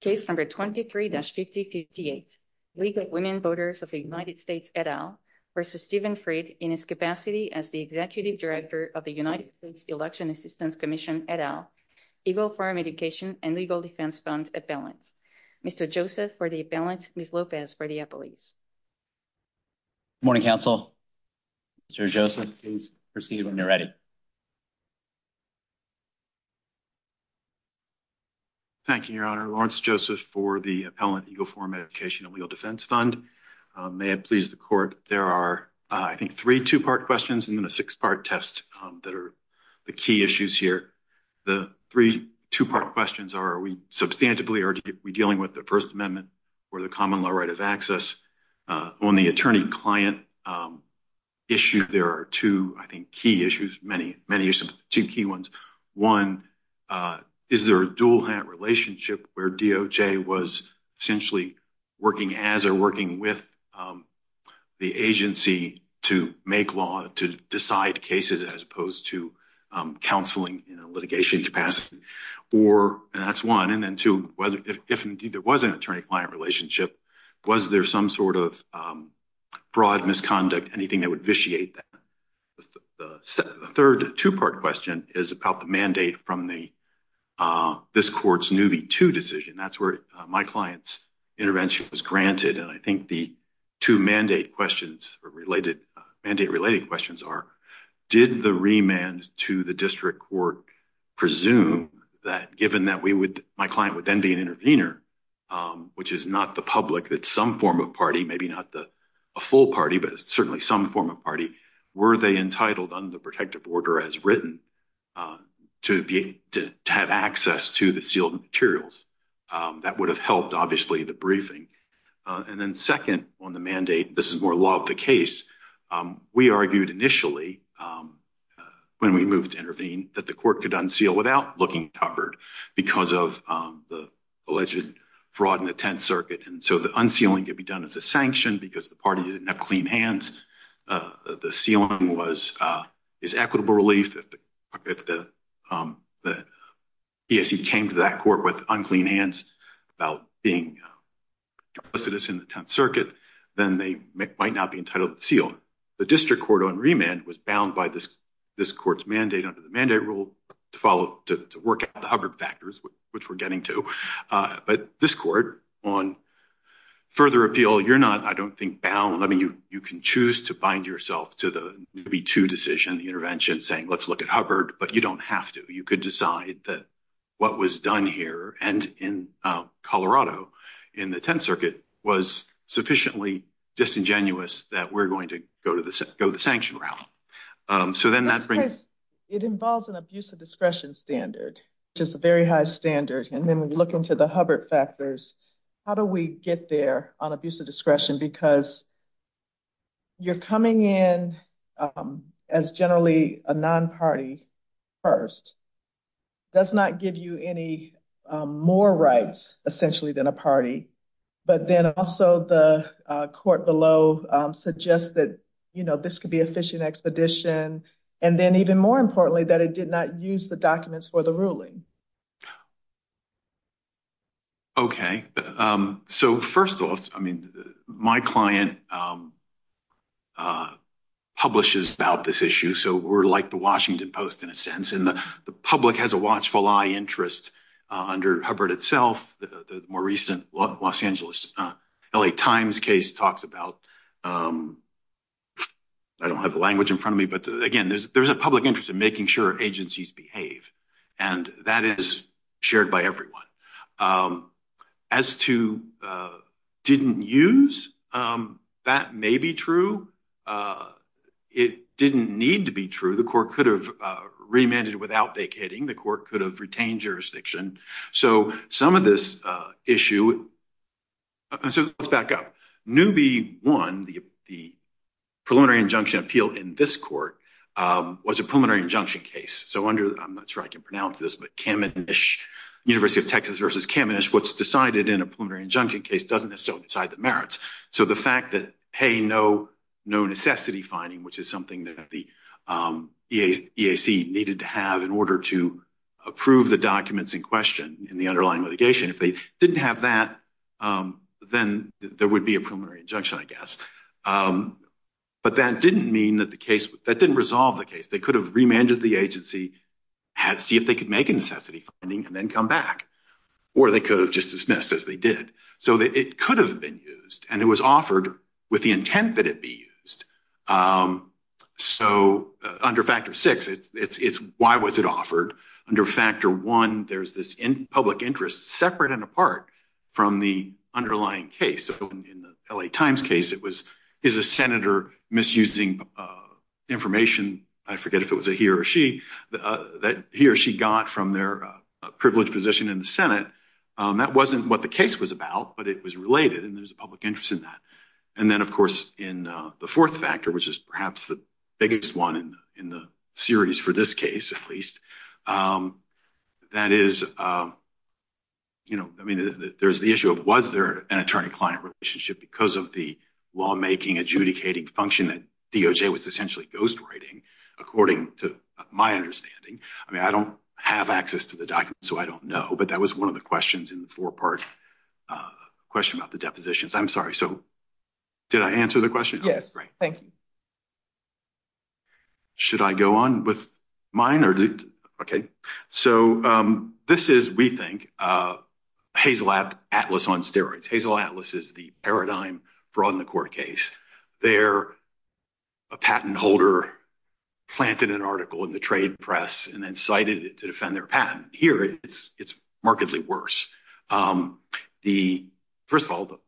Case number 23-5058, Legal Women Voters of the United States et al. versus Steven Frid in his capacity as the Executive Director of the United States Election Assistance Commission et al. EGLE Farm Education and Legal Defense Fund Appellants. Mr. Joseph for the appellant, Ms. Lopez for the appellees. Good morning, Council. Mr. Joseph, please proceed when you're ready. Thank you, Your Honor. Lawrence Joseph for the appellant, EGLE Farm Education and Legal Defense Fund. May it please the Court, there are, I think, three two-part questions and then a six-part test that are the key issues here. The three two-part questions are, are we substantively, are we dealing with the First Amendment or the common law right of access? On the attorney-client issue, there are two, I think, key issues, many, many issues, two key ones. One, is there a dual-hand relationship where DOJ was essentially working as or working with the agency to make law, to decide cases as opposed to counseling in a litigation capacity? Or, and that's one, and then two, whether, if indeed there was an attorney-client relationship, was there some sort of broad misconduct, anything that would vitiate that? The third two-part question is about the mandate from the, this Court's Newby 2 decision. That's where my client's intervention was granted, and I think the two mandate questions or related, mandate-related questions are, did the remand to the district court presume that, given that we would then be an intervener, which is not the public, that some form of party, maybe not the a full party, but certainly some form of party, were they entitled under the protective order as written to be, to have access to the sealed materials? That would have helped, obviously, the briefing. And then second on the mandate, this is more law of the case, we argued initially, when we moved to intervene, that the court could unseal without looking covered because of the alleged fraud in the 10th Circuit. And so the unsealing could be done as a sanction because the party didn't have clean hands. The sealing was, is equitable relief. If the, if the BSE came to that court with unclean hands about being a recidivist in the 10th Circuit, then they might not be entitled to seal. The district court on remand was bound by this, to work at the Hubbard factors, which we're getting to, but this court on further appeal, you're not, I don't think, bound. I mean, you, you can choose to bind yourself to the maybe two decision, the intervention saying, let's look at Hubbard, but you don't have to, you could decide that what was done here and in Colorado in the 10th Circuit was sufficiently disingenuous that we're going to go to the, go the sanction route. So then that brings- Just a very high standard. And then we look into the Hubbard factors. How do we get there on abuse of discretion? Because you're coming in as generally a non-party first, does not give you any more rights essentially than a party, but then also the court below suggest that, you know, this could be a fishing expedition. And then even more ruling. Okay. So first off, I mean, my client publishes about this issue. So we're like the Washington Post in a sense, and the public has a watchful eye interest under Hubbard itself. The more recent Los Angeles LA Times case talks about, I don't have the language in front of me, but again, there's, there's a public interest in agencies behave and that is shared by everyone. As to didn't use, that may be true. It didn't need to be true. The court could have remanded without vacating, the court could have retained jurisdiction. So some of this issue, so let's back up. Newby one, the, the preliminary injunction appeal in this court was a preliminary injunction case. So under, I'm not sure I can pronounce this, but Kaminish, University of Texas versus Kaminish, what's decided in a preliminary injunction case doesn't necessarily decide the merits. So the fact that, Hey, no, no necessity finding, which is something that the EAC needed to have in order to approve the documents in question in the underlying litigation, if they didn't have that, then there would be a preliminary injunction, I guess. But that didn't mean that the case, that didn't resolve the case. They could have remanded the agency, had to see if they could make a necessity finding and then come back, or they could have just dismissed as they did. So it could have been used and it was offered with the intent that it be used. So under factor six, it's, it's, it's why was it offered under factor one? There's this in public interest separate and apart from the underlying case. So in the LA Times case, it was, is a Senator misusing information? I forget if it was a he or she, that he or she got from their privileged position in the Senate. That wasn't what the case was about, but it was related. And there's a public interest in that. And then of course, in the fourth factor, which is perhaps the biggest one in the series for this case, at least, that is, you know, I mean, there's the issue of, was there an attorney-client relationship because of the lawmaking adjudicating function that DOJ was essentially ghostwriting, according to my understanding? I mean, I don't have access to the document, so I don't know, but that was one of the questions in the four-part question about the Should I go on with mine or? Okay. So this is, we think, Hazel Atlas on steroids. Hazel Atlas is the paradigm brought in the court case. There, a patent holder planted an article in the trade press and then cited it to defend their patent. Here, it's, it's markedly worse. The, first of all,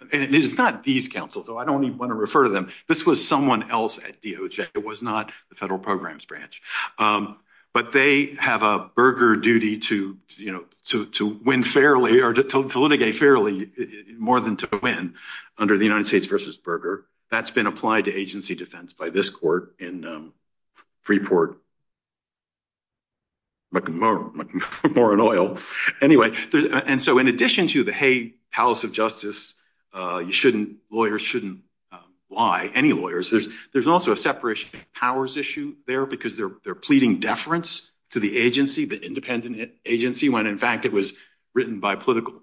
and it's not these counsels, so I don't even want to refer to them. This was someone else at DOJ. It was not the federal programs branch. But they have a burger duty to, you know, to win fairly or to litigate fairly more than to win under the United States versus burger. That's been applied to agency defense by this court in Freeport, McMorrin Oil. Anyway, there's, and so in addition to the, hey, palace of justice, you shouldn't, lawyers shouldn't lie, any lawyers. There's, there's also a separation powers issue there because they're, they're pleading deference to the agency, the independent agency, when in fact it was written by political,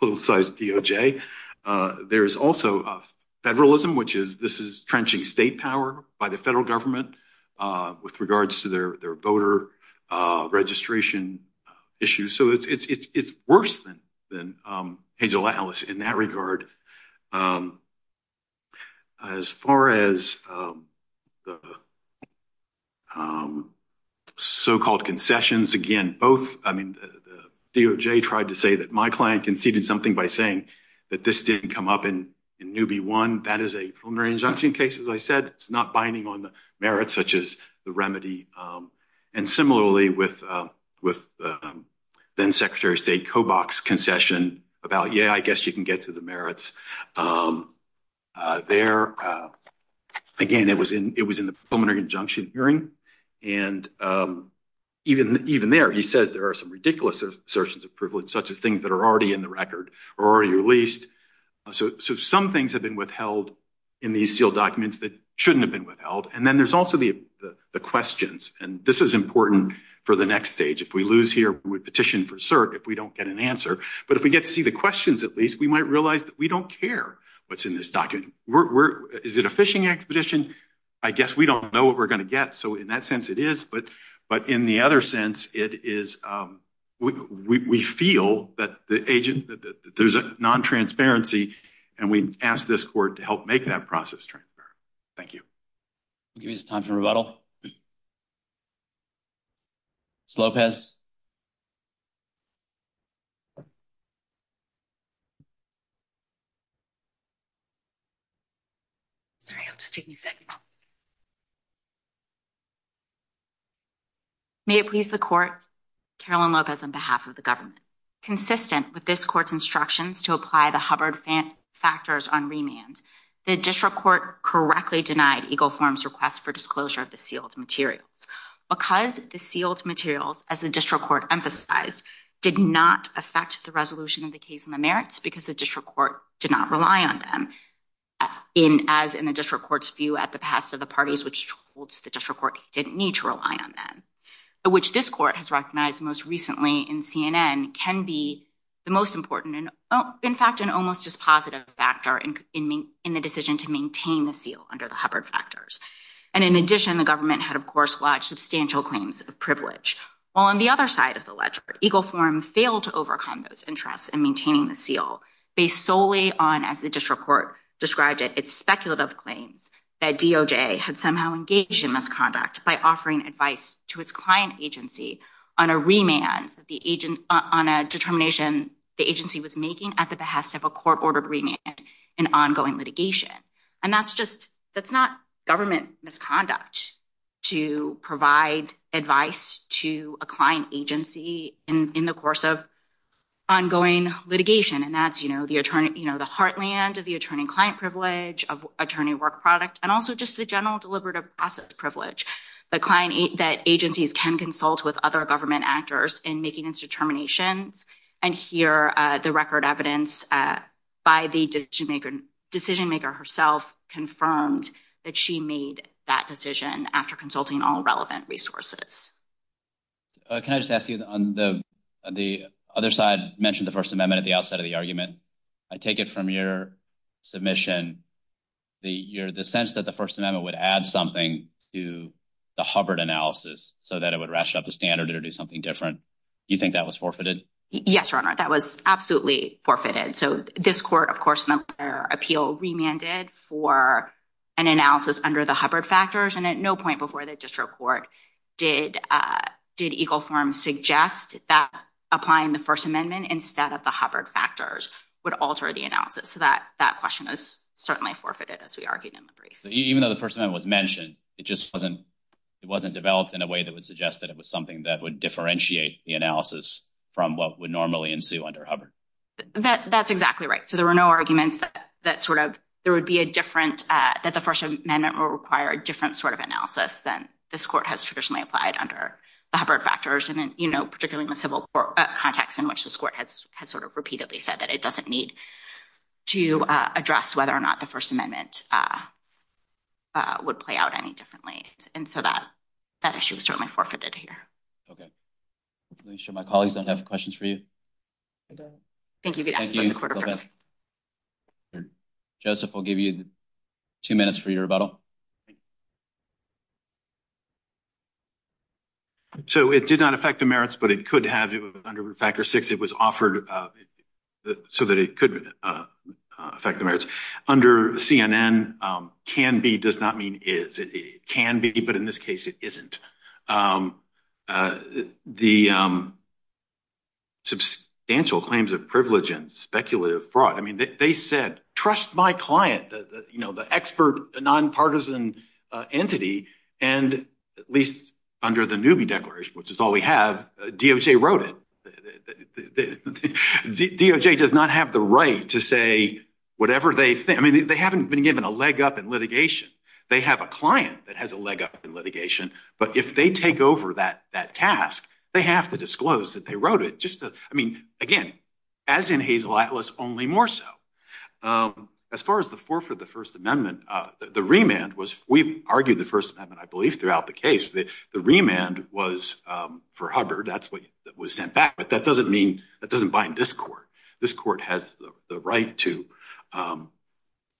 politicized DOJ. There's also federalism, which is, this is trenching state power by the federal government with regards to their, their in that regard. As far as the so-called concessions, again, both, I mean, DOJ tried to say that my client conceded something by saying that this didn't come up in, in newbie one. That is a preliminary injunction case. As I said, it's not binding on the merits such as the remedy. And I guess you can get to the merits there. Again, it was in, it was in the preliminary injunction hearing. And even, even there, he says there are some ridiculous assertions of privilege, such as things that are already in the record or already released. So, so some things have been withheld in these sealed documents that shouldn't have been withheld. And then there's also the, the questions, and this is important for the next stage. If we lose here, we would petition for cert if we don't get an we might realize that we don't care what's in this document. We're, we're, is it a fishing expedition? I guess we don't know what we're going to get. So in that sense it is, but, but in the other sense, it is, we, we feel that the agent, that there's a non-transparency and we ask this court to help make that process transparent. Thank you. I'll give you some time for rebuttal. Ms. Lopez. Sorry, it'll just take me a second. May it please the court, Carolyn Lopez on behalf of the government. Consistent with this court's instructions to apply the Hubbard factors on remand, the district court correctly denied EGLE form's request for disclosure of the sealed materials. Because the sealed materials, as the district court emphasized, did not affect the resolution of the case in the merits because the district court did not rely on them. In, as in the district court's view at the past of the parties which holds the district court didn't need to rely on them. Which this court has recognized most recently in CNN can be the most important and in fact an almost dispositive factor in, in the decision to maintain the seal under the Hubbard factors. And in addition, the government had of course lodged substantial claims of privilege. While on the other side of the ledger, EGLE form failed to overcome those interests in maintaining the seal based solely on, as the district court described it, its speculative claims that DOJ had somehow engaged in misconduct by offering advice to its client agency on a remand that the agent, on a determination the litigation. And that's just, that's not government misconduct to provide advice to a client agency in, in the course of ongoing litigation. And that's, you know, the attorney, you know, the heartland of the attorney client privilege, of attorney work product, and also just the general deliberative assets privilege. The client, that agencies can consult with other government actors in making its determinations. And here the record evidence by the decision maker, decision maker herself confirmed that she made that decision after consulting all relevant resources. Can I just ask you on the, the other side mentioned the first amendment at the outset of the argument, I take it from your submission, the year, the sense that the first amendment would add something to the Hubbard analysis so that it would ration up the standard or do something different. You think that was forfeited? Yes, your honor. That was absolutely forfeited. So this court, of course, their appeal remanded for an analysis under the Hubbard factors. And at no point before the district court did, uh, did Eagle form suggest that applying the first amendment instead of the Hubbard factors would alter the analysis. So that, that question is certainly forfeited as we argued in the brief, even though the first amendment was mentioned, it just wasn't, it wasn't developed in a way that would suggest that it was something that would differentiate the analysis from what would normally ensue under Hubbard. That, that's exactly right. So there were no arguments that, that sort of, there would be a different, uh, that the first amendment will require a different sort of analysis than this court has traditionally applied under the Hubbard factors. And then, you know, particularly in the civil court context in which this court has, has sort of repeatedly said that it doesn't need to, uh, address whether or not the first amendment, uh, uh, would play out any differently. And so that, that issue was certainly forfeited here. Okay. Let me show my colleagues that have questions for you. Thank you. Joseph, I'll give you two minutes for your rebuttal. So it did not affect the merits, but it could have, it was under factor six, it was offered, uh, so that it could affect the merits under CNN, um, can be, does not mean is it can be, but in this case it isn't, um, uh, the, um, substantial claims of privilege and speculative fraud. I mean, they said, trust my client, you know, the expert nonpartisan entity, and at least under the newbie declaration, which is all we have, uh, DOJ wrote it. DOJ does not have the right to say whatever they think. I mean, they haven't been given a leg up in litigation. They have a client that has a leg up in litigation, but if they take over that, that task, they have to disclose that they wrote it just to, I mean, again, as in Hazel Atlas, only more so. Um, as far as the four for the first amendment, uh, the remand was, we've argued the belief throughout the case that the remand was, um, for Hubbard. That's what was sent back. But that doesn't mean that doesn't bind this court. This court has the right to, um,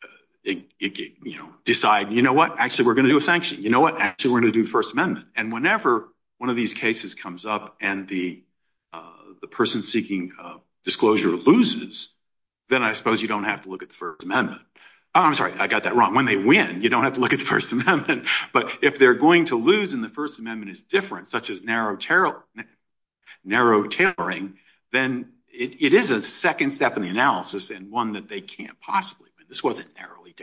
uh, you know, decide, you know what, actually we're going to do a sanction. You know what, actually we're going to do first amendment. And whenever one of these cases comes up and the, uh, the person seeking, uh, disclosure loses, then I suppose you don't have to look at the first amendment. Oh, I'm sorry. I got that wrong. When they win, you don't have to look at the first amendment. If they're going to lose and the first amendment is different, such as narrow, narrow tailoring, then it is a second step in the analysis and one that they can't possibly win. This wasn't narrowly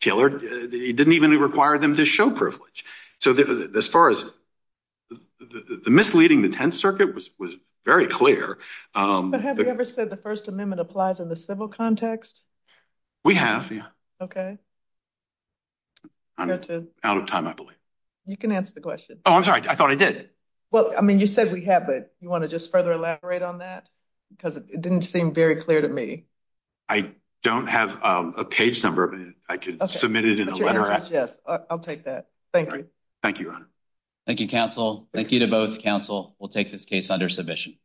tailored. It didn't even require them to show privilege. So as far as the misleading, the tense circuit was very clear. Um, but have you ever said the first You can answer the question. Oh, I'm sorry. I thought I did. Well, I mean, you said we have, but you want to just further elaborate on that because it didn't seem very clear to me. I don't have a page number, but I could submit it in a letter. Yes, I'll take that. Thank you. Thank you. Thank you. Council. Thank you to both council. We'll take this case under submission.